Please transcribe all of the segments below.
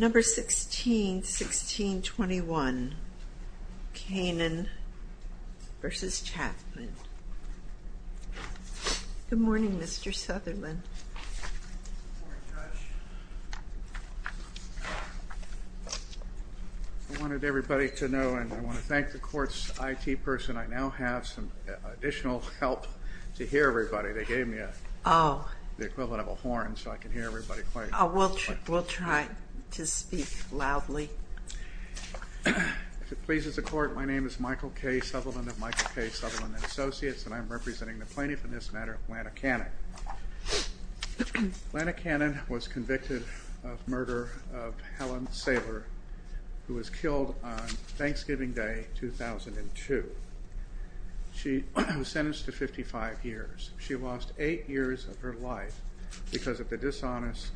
Good morning Mr. Southerland I wanted everybody to know and I want to thank the court's IT person. I now have some additional help to hear everybody. They gave me the equivalent of a horn so I can hear everybody. We'll try to speak loudly. If it pleases the court my name is Michael K. Southerland of Michael K. Southerland and Associates and I'm representing the plaintiff in this matter, Lana Canen. Lana Canen was convicted of murder of Helen Saylor who was killed on Thanksgiving Day 2002. She was sentenced to 55 years. She lost 8 years of her life because of the dishonest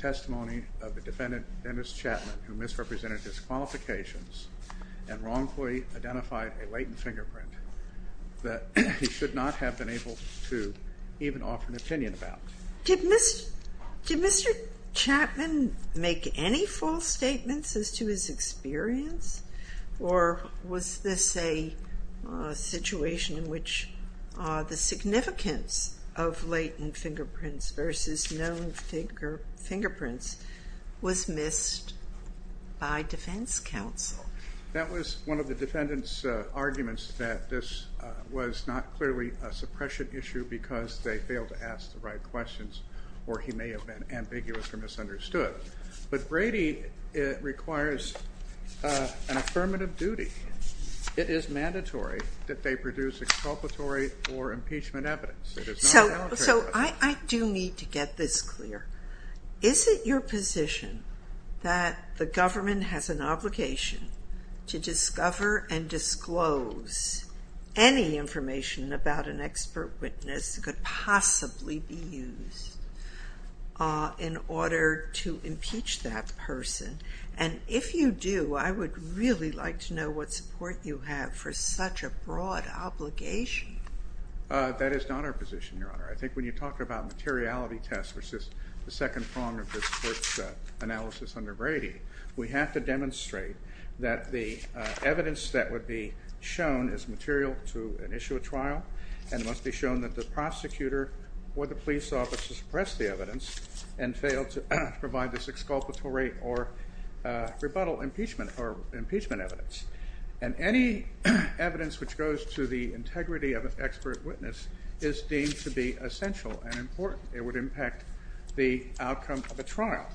testimony of the defendant Dennis Chapman who misrepresented his qualifications and wrongfully identified a latent fingerprint. That he should not have been able to even offer an opinion about. Did Mr. Chapman make any false statements as to his experience or was this a situation in which the significance of latent fingerprints versus known fingerprints was missed by defense counsel? That was one of the defendant's arguments that this was not clearly a suppression issue because they failed to ask the right questions or he may have been ambiguous or misunderstood. But Brady requires an affirmative duty. It is mandatory that they produce exculpatory or impeachment evidence. So I do need to get this clear. Is it your position that the government has an obligation to discover and disclose any information about an expert witness that could possibly be used in order to impeach that person? And if you do I would really like to know what support you have for such a broad obligation. That is not our position, your honor. I think when you talk about materiality tests which is the second prong of this court's analysis under Brady, we have to demonstrate that the evidence that would be shown is material to an issue of trial and must be shown that the prosecutor or the police officer suppressed the evidence and failed to provide this exculpatory or rebuttal impeachment or impeachment evidence. And any evidence which goes to the integrity of an expert witness is deemed to be essential and important. It would impact the outcome of a trial.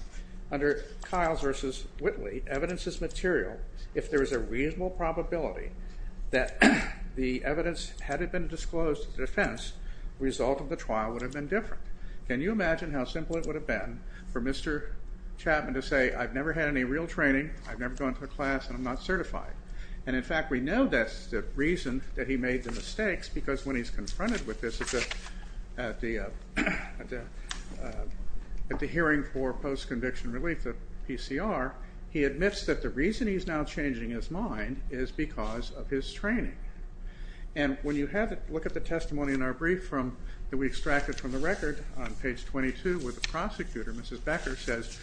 Under Kiles v. Whitley, evidence is material if there is a reasonable probability that the evidence had it been disclosed to defense, the result of the trial would have been different. Can you imagine how simple it would have been for Mr. Chapman to say I've never had any real training, I've never gone to a class, and I'm not certified. And in fact we know that's the reason that he made the mistakes because when he's confronted with this at the hearing for post-conviction relief, the PCR, he admits that the reason he's now changing his mind is because of his training. And when you look at the testimony in our brief that we extracted from the record on page 22 where the prosecutor, Mrs. Becker, says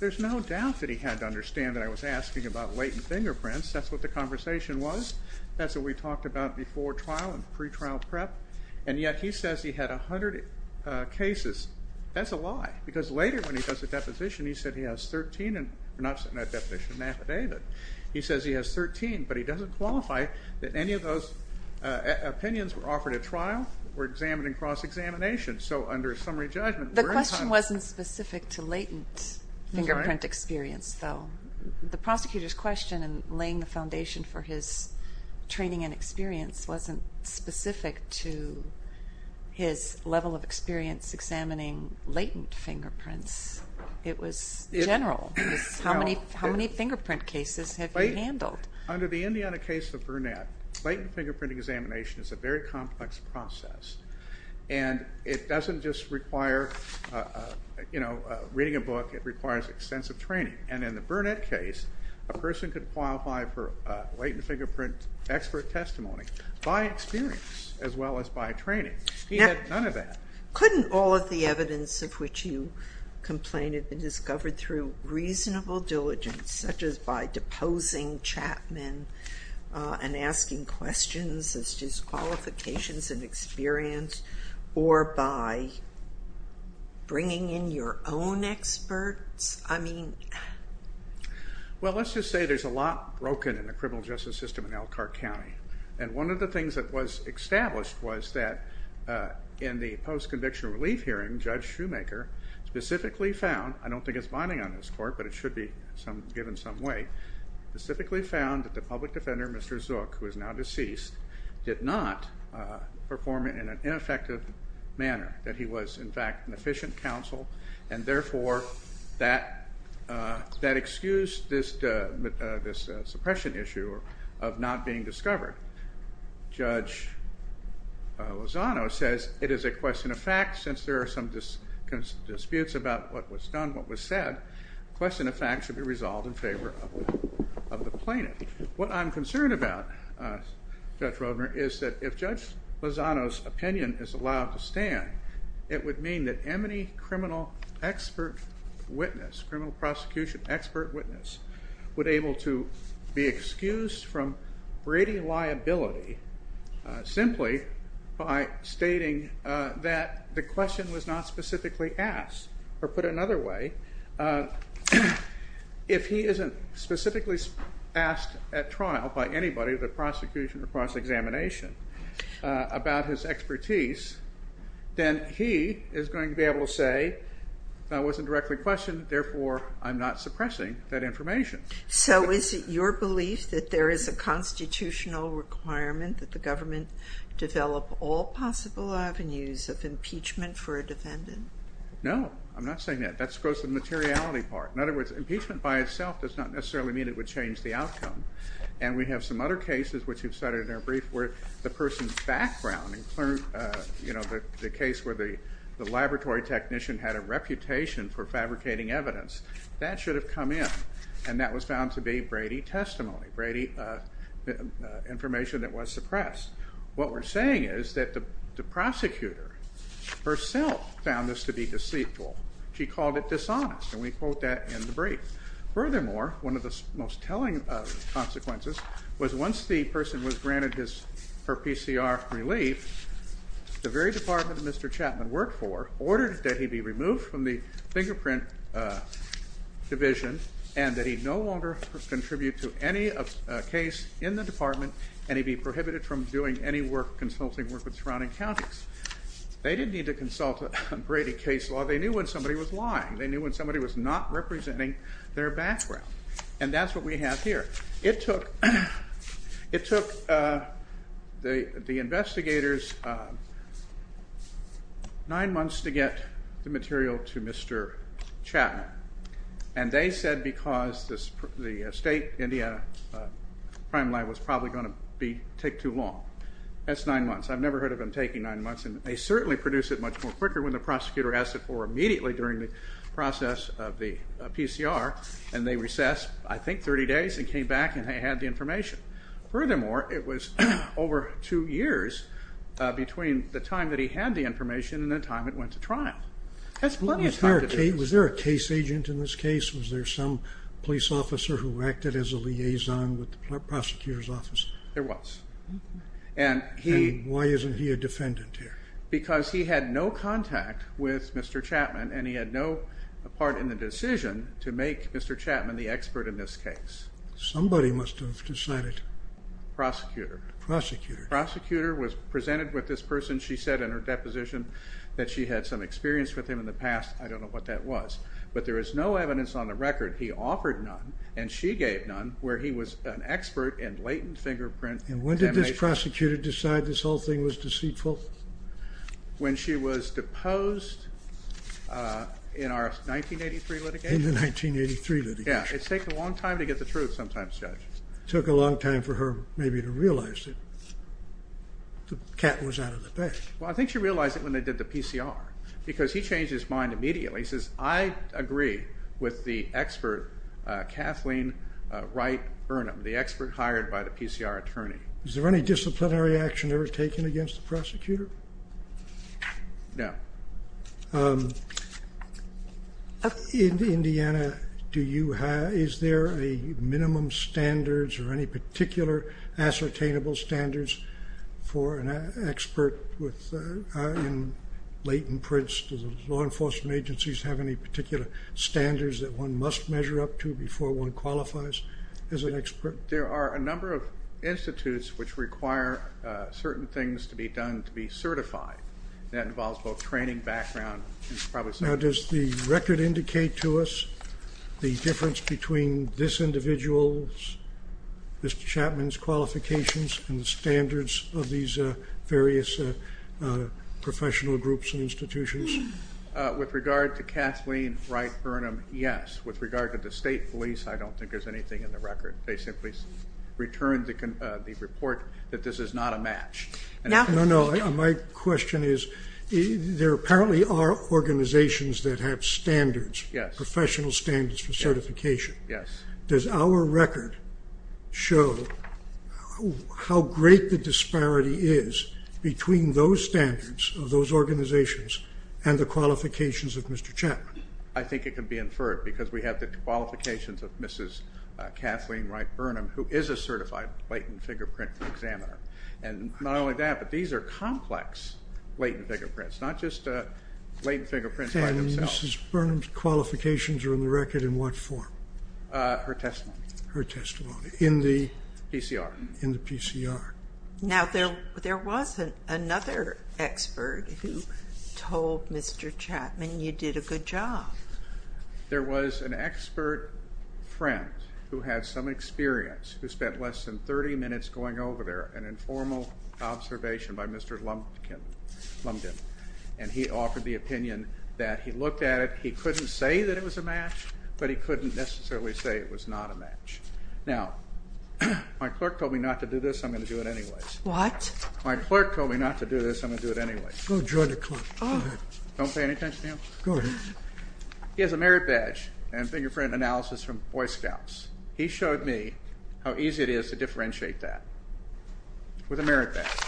there's no doubt that he had to understand that I was asking about latent fingerprints, that's what the conversation was, that's what we talked about before trial and pre-trial prep, and yet he says he had 100 cases. That's a lie. Because later when he does a deposition he says he has 13, but he doesn't qualify that any of those opinions were offered at trial were examined in cross-examination. So under summary judgment... The question wasn't specific to latent fingerprint experience, though. The prosecutor's question in laying the foundation for his training and experience wasn't specific to his level of experience examining latent fingerprints. It was general. How many fingerprint cases have you handled? Under the Indiana case of Burnett, latent fingerprint examination is a very complex process, and it doesn't just require reading a book, it requires extensive training. And in the Burnett case, a person could qualify for latent fingerprint expert testimony by experience as well as by training. He had none of that. Couldn't all of the evidence of which you complained have been discovered through reasonable diligence, such as by deposing Chapman and asking questions as disqualifications of experience, or by bringing in your own experts? Well, let's just say there's a lot broken in the criminal justice system in Elkhart County. And one of the things that was established was that in the post-conviction relief hearing, Judge Shoemaker specifically found, I don't think it's binding on this court, but it should be given some weight, specifically found that the public defender, Mr. Zook, who is now deceased, did not perform in an ineffective manner. That he was, in fact, an efficient counsel, and therefore, that excused this suppression issue of not being discovered. Judge Lozano says it is a question of fact, since there are some disputes about what was done, what was said, the question of fact should be resolved in favor of the plaintiff. What I'm concerned about, Judge Roedner, is that if Judge Lozano's opinion is allowed to stand, it would mean that any criminal expert witness, criminal prosecution expert witness, would be able to be excused from Brady liability simply by stating that the question was not specifically asked. Or put another way, if he isn't specifically asked at trial by anybody, the prosecution or cross-examination, about his expertise, then he is going to be able to say, that wasn't directly questioned, therefore, I'm not suppressing that information. So is it your belief that there is a constitutional requirement that the government develop all possible avenues of impeachment for a defendant? No, I'm not saying that. That goes to the materiality part. In other words, impeachment by itself does not necessarily mean it would change the outcome. And we have some other cases, which we've cited in our brief, where the person's background, you know, the case where the laboratory technician had a reputation for fabricating evidence, that should have come in. And that was found to be Brady testimony, Brady information that was suppressed. What we're saying is that the prosecutor herself found this to be deceitful. She called it dishonest, and we quote that in the brief. And that he'd no longer contribute to any case in the department, and he'd be prohibited from doing any work, consulting work with surrounding counties. They didn't need to consult Brady case law. They knew when somebody was lying. They knew when somebody was not representing their background. And that's what we have here. It took the investigators nine months to get the material to Mr. Chapman. And they said because the state India crime lab was probably going to take too long. That's nine months. I've never heard of them taking nine months, and they certainly produced it much more quicker when the prosecutor asked it for immediately during the process of the PCR, and they recessed, I think, 30 days and came back and had the information. Furthermore, it was over two years between the time that he had the information and the time it went to trial. That's plenty of time to do this. Was there a case agent in this case? Was there some police officer who acted as a liaison with the prosecutor's office? There was. And why isn't he a defendant here? Because he had no contact with Mr. Chapman, and he had no part in the decision to make Mr. Chapman the expert in this case. Somebody must have decided. Prosecutor. Prosecutor. Prosecutor was presented with this person. She said in her deposition that she had some experience with him in the past. I don't know what that was, but there is no evidence on the record. He offered none, and she gave none, where he was an expert in latent fingerprint examination. And when did this prosecutor decide this whole thing was deceitful? When she was deposed in our 1983 litigation. In the 1983 litigation. Yeah, it's taken a long time to get the truth sometimes, Judge. It took a long time for her maybe to realize that the cat was out of the bag. Well, I think she realized it when they did the PCR, because he changed his mind immediately. He says, I agree with the expert Kathleen Wright Burnham, the expert hired by the PCR attorney. Was there any disciplinary action ever taken against the prosecutor? No. In Indiana, is there a minimum standards or any particular ascertainable standards for an expert in latent prints? Do the law enforcement agencies have any particular standards that one must measure up to before one qualifies as an expert? There are a number of institutes which require certain things to be done to be certified. That involves both training, background, and probably some other things. Now, does the record indicate to us the difference between this individual's, Mr. Chapman's, qualifications and the standards of these various professional groups and institutions? With regard to Kathleen Wright Burnham, yes. With regard to the state police, I don't think there's anything in the record. They simply returned the report that this is not a match. No, no. My question is, there apparently are organizations that have standards, professional standards for certification. Yes. Does our record show how great the disparity is between those standards of those organizations and the qualifications of Mr. Chapman? I think it can be inferred because we have the qualifications of Mrs. Kathleen Wright Burnham, who is a certified latent fingerprint examiner. And not only that, but these are complex latent fingerprints, not just latent fingerprints by themselves. And Mrs. Burnham's qualifications are in the record in what form? Her testimony. In the? PCR. In the PCR. Now, there was another expert who told Mr. Chapman you did a good job. There was an expert friend who had some experience, who spent less than 30 minutes going over there, an informal observation by Mr. Lumbden, and he offered the opinion that he looked at it, he couldn't say that it was a match, but he couldn't necessarily say it was not a match. Now, my clerk told me not to do this. I'm going to do it anyways. What? My clerk told me not to do this. I'm going to do it anyways. Go join the clerk. Go ahead. Don't pay any attention to him. Go ahead. He has a merit badge and fingerprint analysis from Boy Scouts. He showed me how easy it is to differentiate that with a merit badge.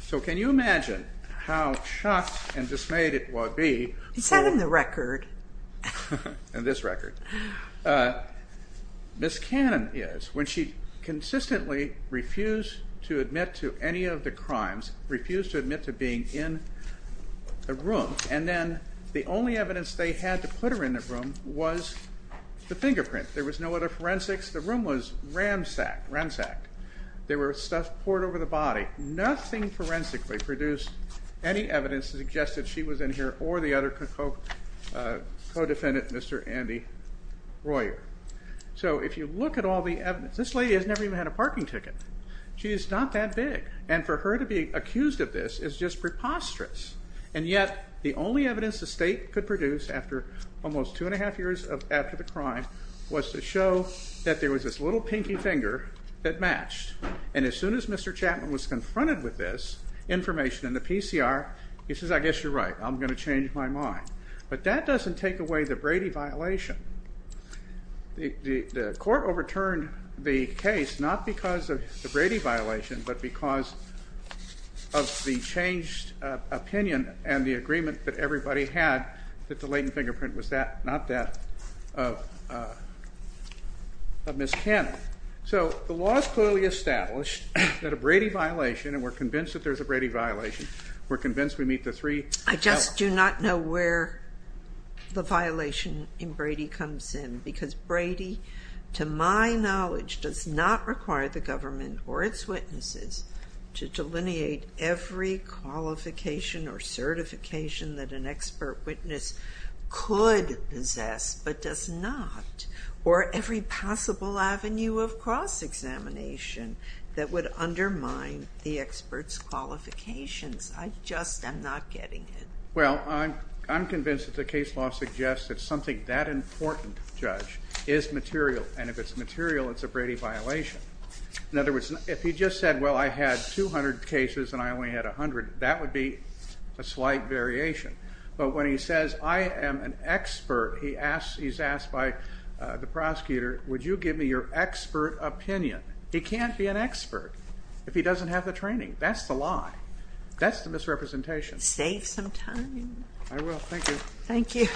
So can you imagine how shocked and dismayed it would be? It's not in the record. In this record. Miss Cannon is. When she consistently refused to admit to any of the crimes, refused to admit to being in the room, and then the only evidence they had to put her in the room was the fingerprint. There was no other forensics. The room was ransacked. There was stuff poured over the body. Nothing forensically produced any evidence to suggest that she was in here or the other co-defendant, Mr. Andy Royer. So if you look at all the evidence, this lady has never even had a parking ticket. She is not that big. And for her to be accused of this is just preposterous. And yet the only evidence the state could produce after almost two and a half years after the crime was to show that there was this little pinky finger that matched. And as soon as Mr. Chapman was confronted with this information in the PCR, he says, I guess you're right. I'm going to change my mind. But that doesn't take away the Brady violation. The court overturned the case not because of the Brady violation but because of the changed opinion and the agreement that everybody had that the latent fingerprint was not that of Miss Cannon. So the law is clearly established that a Brady violation, and we're convinced that there's a Brady violation, we're convinced we meet the three L's. I just do not know where the violation in Brady comes in because Brady, to my knowledge, does not require the government or its witnesses to delineate every qualification or certification that an expert witness could possess but does not, or every possible avenue of cross-examination that would undermine the expert's qualifications. I just am not getting it. Well, I'm convinced that the case law suggests that something that important, Judge, is material. And if it's material, it's a Brady violation. In other words, if he just said, well, I had 200 cases and I only had 100, that would be a slight variation. But when he says, I am an expert, he's asked by the prosecutor, would you give me your expert opinion? He can't be an expert if he doesn't have the training. That's the lie. That's the misrepresentation. Save some time. I will. Thank you. Thank you.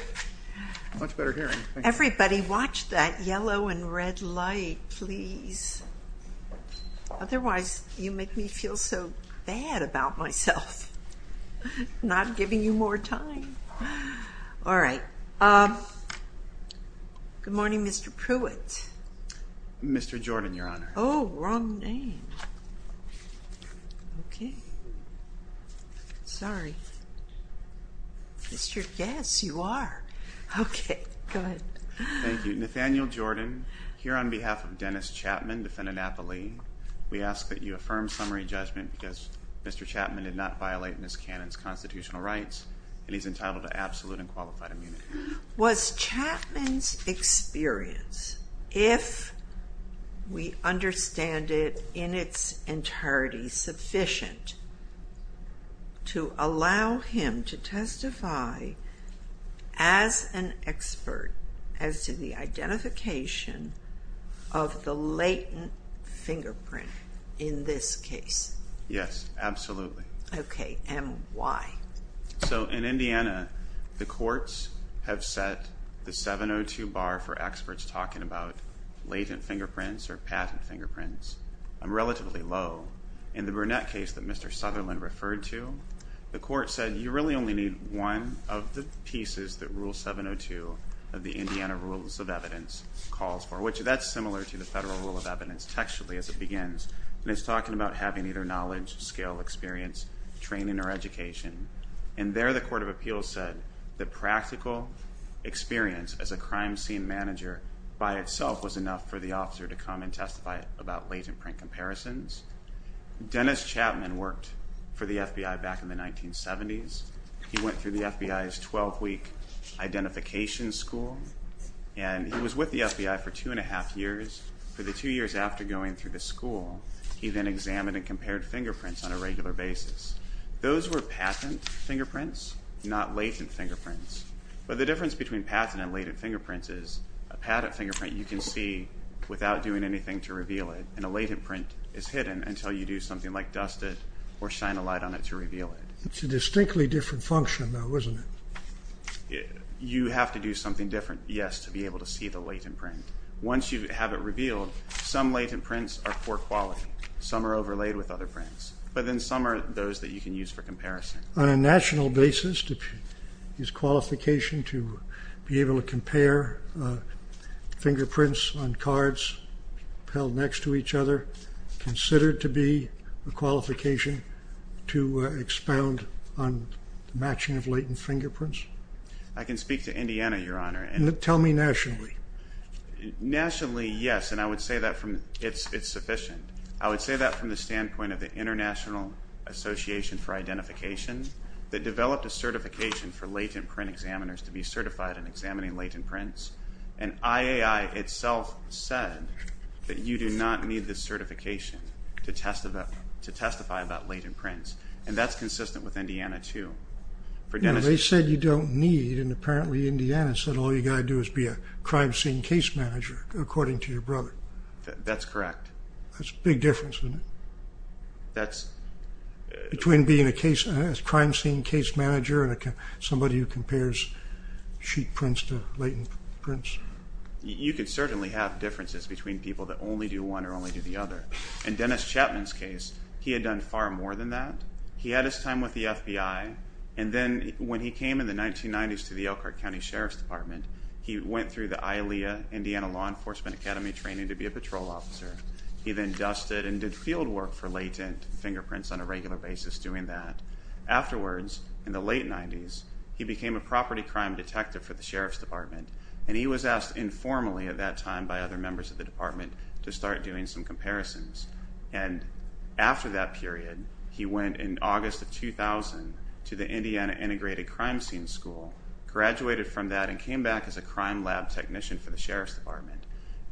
Much better hearing. Everybody watch that yellow and red light, please. Otherwise, you make me feel so bad about myself, not giving you more time. All right. Good morning, Mr. Pruitt. Mr. Jordan, Your Honor. Oh, wrong name. Okay. Sorry. Yes, you are. Okay. Go ahead. Thank you. Nathaniel Jordan, here on behalf of Dennis Chapman, defendant at the lead, we ask that you affirm summary judgment because Mr. Chapman did not violate Ms. Cannon's constitutional rights and he's entitled to absolute and qualified immunity. Was Chapman's experience, if we understand it in its entirety, sufficient to allow him to testify as an expert as to the identification of the latent fingerprint in this case? Yes, absolutely. Okay. And why? So in Indiana, the courts have set the 702 bar for experts talking about latent fingerprints or patent fingerprints. Relatively low. In the Burnett case that Mr. Sutherland referred to, the court said, you really only need one of the pieces that Rule 702 of the Indiana Rules of Evidence calls for, which that's similar to the Federal Rule of Evidence textually as it begins, and it's talking about having either knowledge, skill, experience, training, or education. And there the Court of Appeals said that practical experience as a crime scene manager by itself was enough for the officer to come and testify about latent print comparisons. Dennis Chapman worked for the FBI back in the 1970s. He went through the FBI's 12-week identification school, and he was with the FBI for two and a half years. For the two years after going through the school, he then examined and compared fingerprints on a regular basis. Those were patent fingerprints, not latent fingerprints. But the difference between patent and latent fingerprints is a patent fingerprint you can see without doing anything to reveal it, and a latent print is hidden until you do something like dust it or shine a light on it to reveal it. It's a distinctly different function, though, isn't it? You have to do something different, yes, to be able to see the latent print. Once you have it revealed, some latent prints are poor quality. Some are overlaid with other prints, but then some are those that you can use for comparison. On a national basis, is qualification to be able to compare fingerprints on cards held next to each other considered to be a qualification to expound on matching of latent fingerprints? I can speak to Indiana, Your Honor. Tell me nationally. Nationally, yes, and I would say that it's sufficient. I would say that from the standpoint of the International Association for Identification that developed a certification for latent print examiners to be certified in examining latent prints, and IAI itself said that you do not need this certification to testify about latent prints, and that's consistent with Indiana too. They said you don't need, and apparently Indiana said all you've got to do is be a crime scene case manager, according to your brother. That's correct. That's a big difference, isn't it, between being a crime scene case manager and somebody who compares sheet prints to latent prints? You can certainly have differences between people that only do one or only do the other. In Dennis Chapman's case, he had done far more than that. He had his time with the FBI, and then when he came in the 1990s to the Elkhart County Sheriff's Department, he went through the ILEA, Indiana Law Enforcement Academy, training to be a patrol officer. He then dusted and did field work for latent fingerprints on a regular basis doing that. Afterwards, in the late 90s, he became a property crime detective for the Sheriff's Department, and he was asked informally at that time by other members of the department to start doing some comparisons, and after that period, he went in August of 2000 to the Indiana Integrated Crime Scene School, graduated from that, and came back as a crime lab technician for the Sheriff's Department.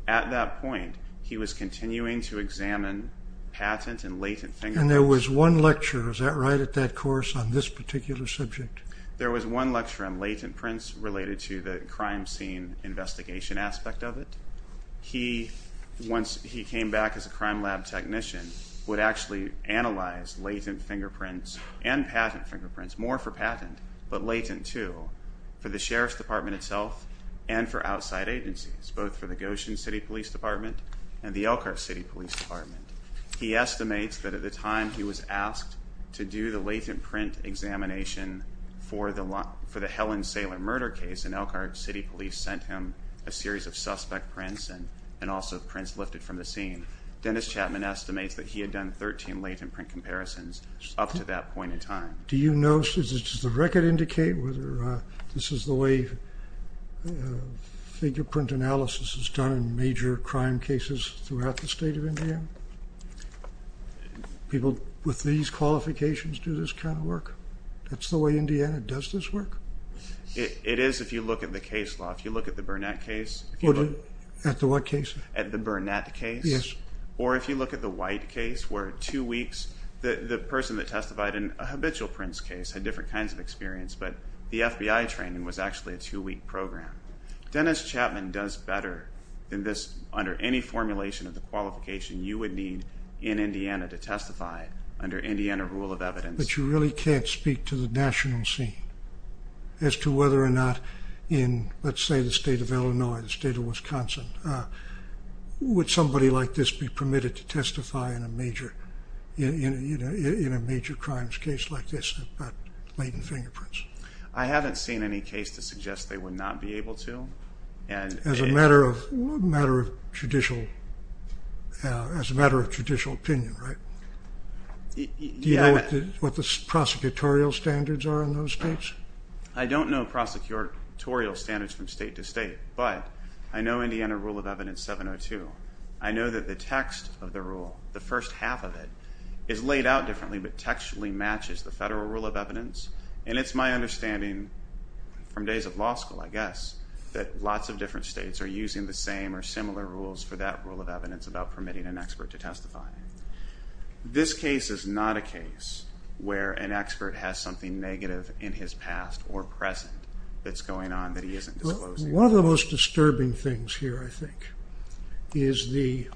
At that point, he was continuing to examine patent and latent fingerprints. And there was one lecture, is that right, at that course on this particular subject? There was one lecture on latent prints related to the crime scene investigation aspect of it. He, once he came back as a crime lab technician, would actually analyze latent fingerprints and patent fingerprints, more for patent but latent too, for the Sheriff's Department itself and for outside agencies, both for the Goshen City Police Department and the Elkhart City Police Department. He estimates that at the time he was asked to do the latent print examination for the Helen Saylor murder case in Elkhart, city police sent him a series of suspect prints and also prints lifted from the scene. Dennis Chapman estimates that he had done 13 latent print comparisons up to that point in time. Do you know, does the record indicate whether this is the way fingerprint analysis is done in major crime cases throughout the state of Indiana? People with these qualifications do this kind of work? That's the way Indiana does this work? It is if you look at the case law. If you look at the Burnett case. At the what case? At the Burnett case. Yes. Or if you look at the White case where two weeks, the person that testified in a habitual prints case had different kinds of experience but the FBI training was actually a two-week program. Dennis Chapman does better than this under any formulation of the qualification you would need in Indiana to testify under Indiana rule of evidence. But you really can't speak to the national scene as to whether or not in, let's say, the state of Illinois, the state of Wisconsin, would somebody like this be permitted to testify in a major crimes case like this about latent fingerprints? I haven't seen any case to suggest they would not be able to. As a matter of judicial opinion, right? Do you know what the prosecutorial standards are in those states? I don't know prosecutorial standards from state to state, but I know Indiana rule of evidence 702. I know that the text of the rule, the first half of it, is laid out differently but textually matches the federal rule of evidence. And it's my understanding from days of law school, I guess, that lots of different states are using the same or similar rules for that rule of evidence about permitting an expert to testify. This case is not a case where an expert has something negative in his past or present that's going on that he isn't disclosing. One of the most disturbing things here, I think, is the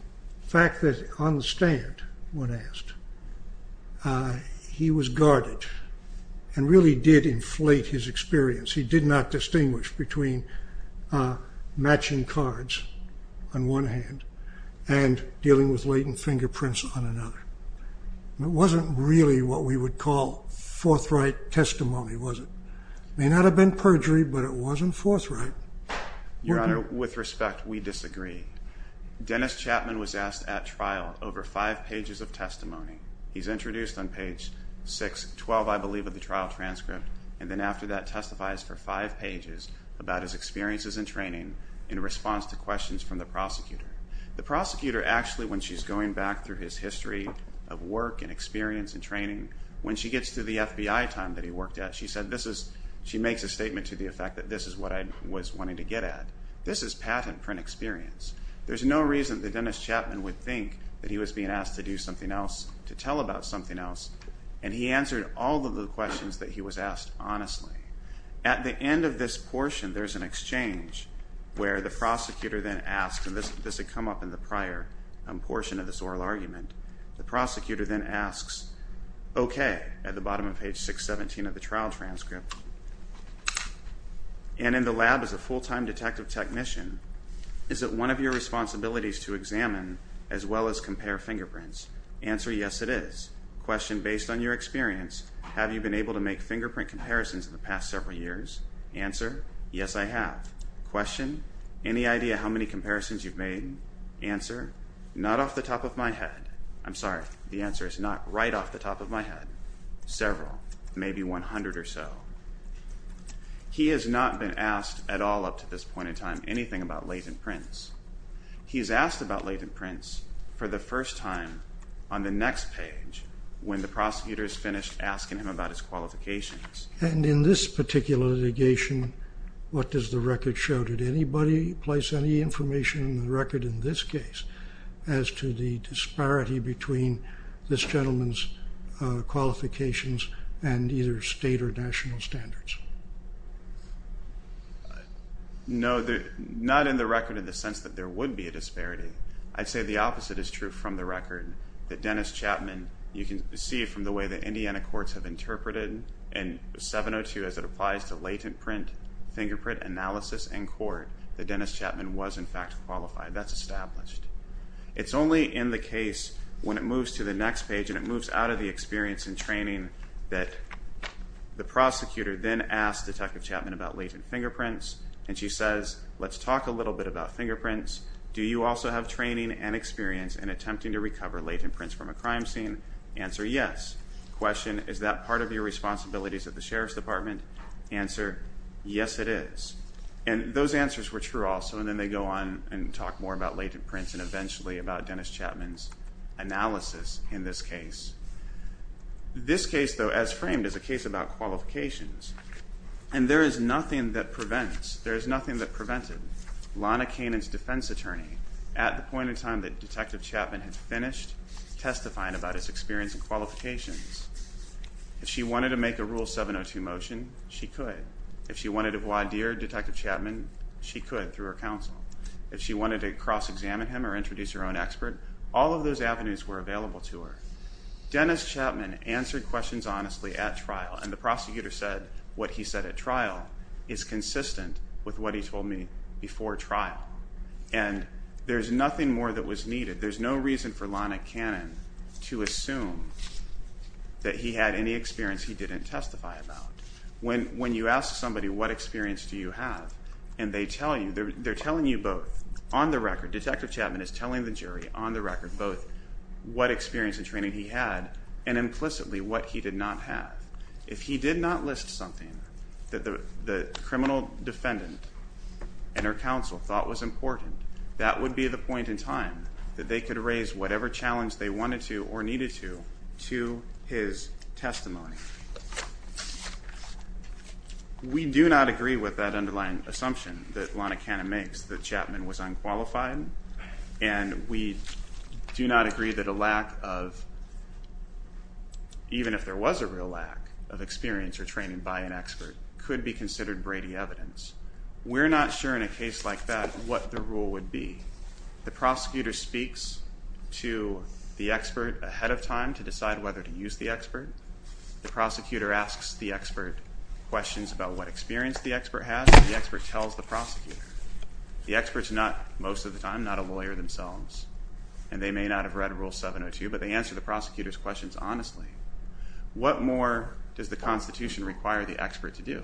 fact that on the stand, when asked, he was guarded and really did inflate his experience. He did not distinguish between matching cards on one hand and dealing with latent fingerprints on another. It wasn't really what we would call forthright testimony, was it? It may not have been perjury, but it wasn't forthright. Your Honor, with respect, we disagree. Dennis Chapman was asked at trial over five pages of testimony. He's introduced on page 612, I believe, of the trial transcript, and then after that testifies for five pages about his experiences in training in response to questions from the prosecutor. The prosecutor actually, when she's going back through his history of work and experience and training, when she gets to the FBI time that he worked at, she makes a statement to the effect that this is what I was wanting to get at. This is patent print experience. There's no reason that Dennis Chapman would think that he was being asked to do something else, to tell about something else, and he answered all of the questions that he was asked honestly. At the end of this portion, there's an exchange where the prosecutor then asks, and this had come up in the prior portion of this oral argument, the prosecutor then asks, okay, at the bottom of page 617 of the trial transcript, and in the lab as a full-time detective technician, is it one of your responsibilities to examine as well as compare fingerprints? Answer, yes, it is. Question, based on your experience, have you been able to make fingerprint comparisons in the past several years? Answer, yes, I have. Question, any idea how many comparisons you've made? Answer, not off the top of my head. I'm sorry, the answer is not right off the top of my head. Several, maybe 100 or so. He has not been asked at all up to this point in time anything about latent prints. He is asked about latent prints for the first time on the next page when the prosecutor is finished asking him about his qualifications. And in this particular litigation, what does the record show? Did anybody place any information in the record in this case as to the disparity between this gentleman's qualifications and either state or national standards? No, not in the record in the sense that there would be a disparity. I'd say the opposite is true from the record, that Dennis Chapman, you can see from the way the Indiana courts have interpreted in 702 as it applies to latent print fingerprint analysis in court, that Dennis Chapman was in fact qualified. That's established. It's only in the case when it moves to the next page and it moves out of the experience and training that the prosecutor then asks Detective Chapman about latent fingerprints and she says, let's talk a little bit about fingerprints. Do you also have training and experience in attempting to recover latent prints from a crime scene? Answer, yes. Question, is that part of your responsibilities at the Sheriff's Department? Answer, yes, it is. And those answers were true also, and then they go on and talk more about latent prints and eventually about Dennis Chapman's analysis in this case. This case, though, as framed, is a case about qualifications, and there is nothing that prevents, there is nothing that prevented Lana Kanan's defense attorney at the point in time that Detective Chapman had finished testifying about his experience and qualifications. If she wanted to make a Rule 702 motion, she could. If she wanted to voir dire Detective Chapman, she could through her counsel. If she wanted to cross-examine him or introduce her own expert, all of those avenues were available to her. Dennis Chapman answered questions honestly at trial, and the prosecutor said what he said at trial is consistent with what he told me before trial. And there's nothing more that was needed. There's no reason for Lana Kanan to assume that he had any experience he didn't testify about. When you ask somebody, what experience do you have, and they tell you, they're telling you both on the record, Detective Chapman is telling the jury on the record both what experience and training he had and implicitly what he did not have. If he did not list something that the criminal defendant and her counsel thought was important, that would be the point in time that they could raise whatever challenge they wanted to or needed to to his testimony. We do not agree with that underlying assumption that Lana Kanan makes that Chapman was unqualified, and we do not agree that a lack of, even if there was a real lack of experience or training by an expert, could be considered Brady evidence. We're not sure in a case like that what the rule would be. The prosecutor speaks to the expert ahead of time to decide whether to use the expert. The prosecutor asks the expert questions about what experience the expert has, and the expert tells the prosecutor. The expert's not, most of the time, not a lawyer themselves, and they may not have read Rule 702, but they answer the prosecutor's questions honestly. What more does the Constitution require the expert to do?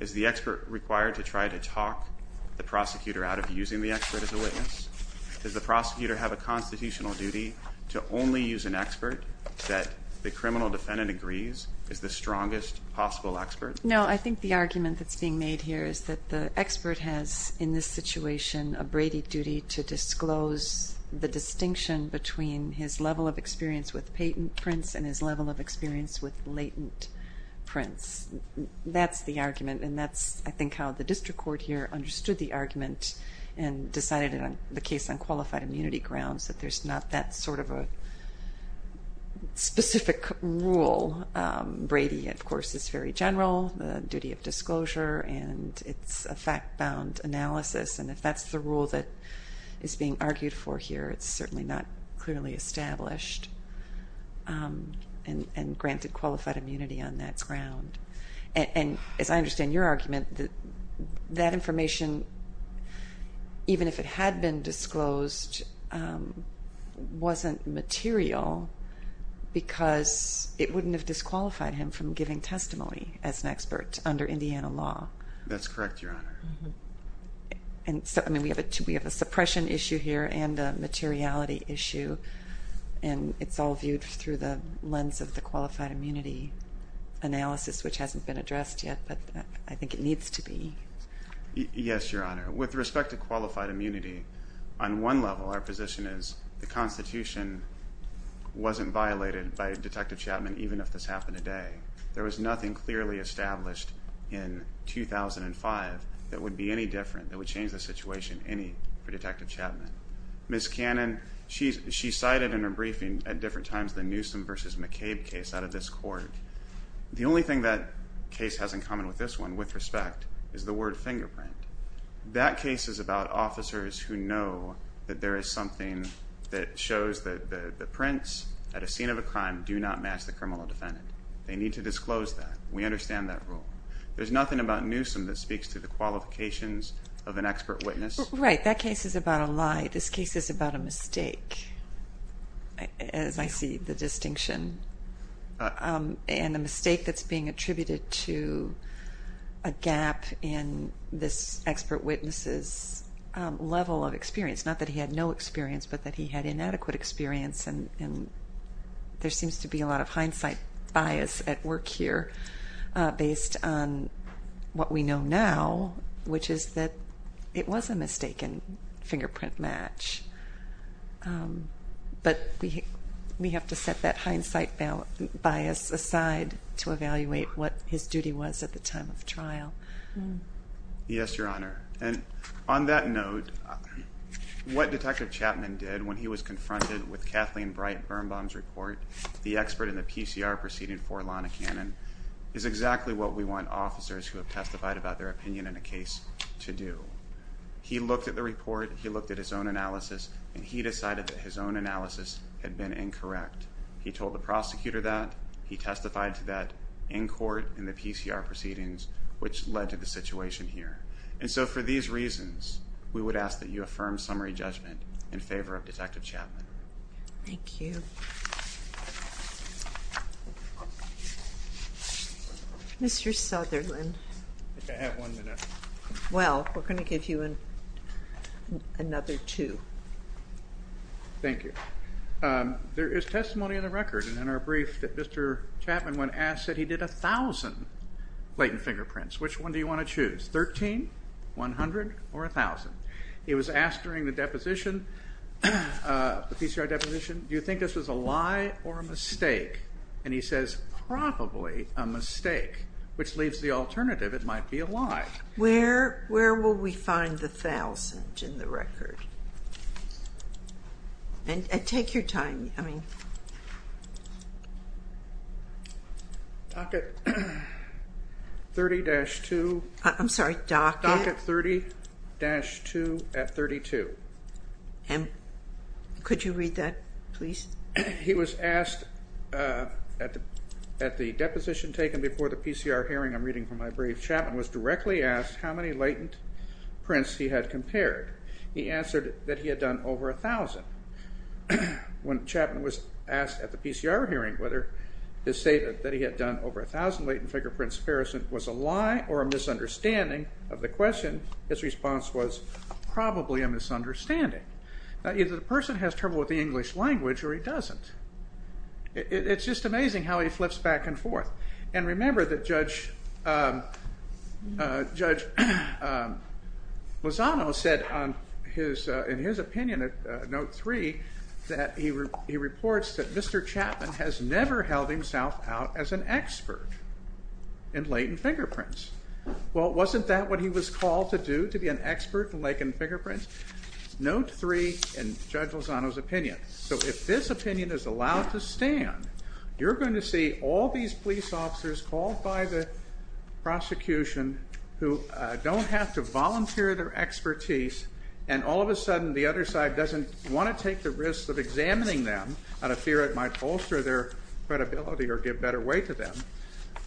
Is the expert required to try to talk the prosecutor out of using the expert as a witness? Does the prosecutor have a constitutional duty to only use an expert that the criminal defendant agrees is the strongest possible expert? No, I think the argument that's being made here is that the expert has, in this situation, a Brady duty to disclose the distinction between his level of experience with patent prints and his level of experience with latent prints. That's the argument, and that's, I think, how the district court here understood the argument and decided in the case on qualified immunity grounds that there's not that sort of a specific rule. Brady, of course, is very general, the duty of disclosure, and it's a fact-bound analysis, and if that's the rule that is being argued for here, it's certainly not clearly established and granted qualified immunity on that ground. As I understand your argument, that information, even if it had been disclosed, wasn't material because it wouldn't have disqualified him from giving testimony as an expert under Indiana law. That's correct, Your Honor. We have a suppression issue here and a materiality issue, and it's all viewed through the lens of the qualified immunity analysis, which hasn't been addressed yet, but I think it needs to be. Yes, Your Honor. With respect to qualified immunity, on one level our position is the Constitution wasn't violated by Detective Chapman, even if this happened today. There was nothing clearly established in 2005 that would be any different, that would change the situation any for Detective Chapman. Ms. Cannon, she cited in her briefing at different times the Newsom v. McCabe case out of this court. The only thing that case has in common with this one, with respect, is the word fingerprint. That case is about officers who know that there is something that shows that the prints at a scene of a crime do not match the criminal defendant. They need to disclose that. We understand that rule. There's nothing about Newsom that speaks to the qualifications of an expert witness. Right. That case is about a lie. This case is about a mistake, as I see the distinction, and a mistake that's being attributed to a gap in this expert witness's level of experience. Not that he had no experience, but that he had inadequate experience, and there seems to be a lot of hindsight bias at work here based on what we know now, which is that it was a mistaken fingerprint match. But we have to set that hindsight bias aside to evaluate what his duty was at the time of trial. Yes, Your Honor. And on that note, what Detective Chapman did when he was confronted with Kathleen Bright Birnbaum's report, the expert in the PCR proceeding for Lana Cannon, is exactly what we want officers who have testified about their opinion in a case to do. He looked at the report. He looked at his own analysis, and he decided that his own analysis had been incorrect. He told the prosecutor that. He testified to that in court in the PCR proceedings, which led to the situation here. And so for these reasons, we would ask that you affirm summary judgment in favor of Detective Chapman. Thank you. Mr. Sutherland. I have one minute. Well, we're going to give you another two. Thank you. There is testimony in the record in our brief that Mr. Chapman, when asked, said he did 1,000 latent fingerprints. Which one do you want to choose, 13, 100, or 1,000? He was asked during the deposition, the PCR deposition, do you think this was a lie or a mistake? And he says, probably a mistake, which leaves the alternative, it might be a lie. Where will we find the 1,000 in the record? And take your time. Docket 30-2. I'm sorry, docket? Docket 30-2 at 32. Could you read that, please? He was asked at the deposition taken before the PCR hearing, I'm reading from my brief, Chapman was directly asked how many latent prints he had compared. He answered that he had done over 1,000. When Chapman was asked at the PCR hearing whether his statement that he had done over 1,000 latent fingerprints was a lie or a misunderstanding of the question, his response was, probably a misunderstanding. Either the person has trouble with the English language or he doesn't. It's just amazing how he flips back and forth. And remember that Judge Lozano said in his opinion at Note 3 that he reports that Mr. Chapman has never held himself out as an expert in latent fingerprints. Well, wasn't that what he was called to do, to be an expert in latent fingerprints? Note 3 in Judge Lozano's opinion. So if this opinion is allowed to stand, you're going to see all these police officers called by the prosecution who don't have to volunteer their expertise, and all of a sudden the other side doesn't want to take the risk of examining them out of fear it might bolster their credibility or give better weight to them.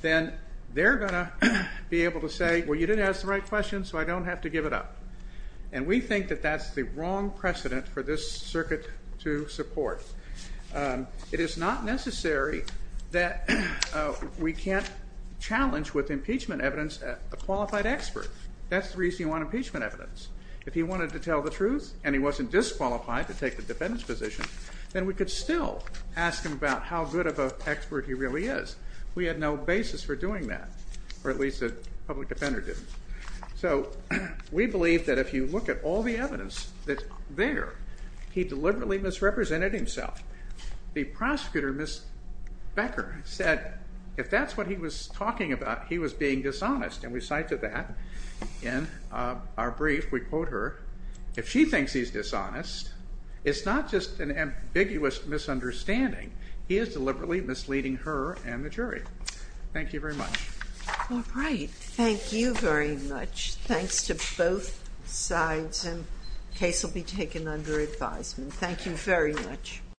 Then they're going to be able to say, well, you didn't ask the right question, so I don't have to give it up. And we think that that's the wrong precedent for this circuit to support. It is not necessary that we can't challenge with impeachment evidence a qualified expert. That's the reason you want impeachment evidence. If he wanted to tell the truth and he wasn't disqualified to take the defendant's position, then we could still ask him about how good of an expert he really is. We had no basis for doing that, or at least the public defender didn't. So we believe that if you look at all the evidence there, he deliberately misrepresented himself. The prosecutor, Ms. Becker, said if that's what he was talking about, he was being dishonest, and we cite to that in our brief. We quote her, if she thinks he's dishonest, it's not just an ambiguous misunderstanding. He is deliberately misleading her and the jury. Thank you very much. All right. Thank you very much. Thanks to both sides, and the case will be taken under advisement. Thank you very much.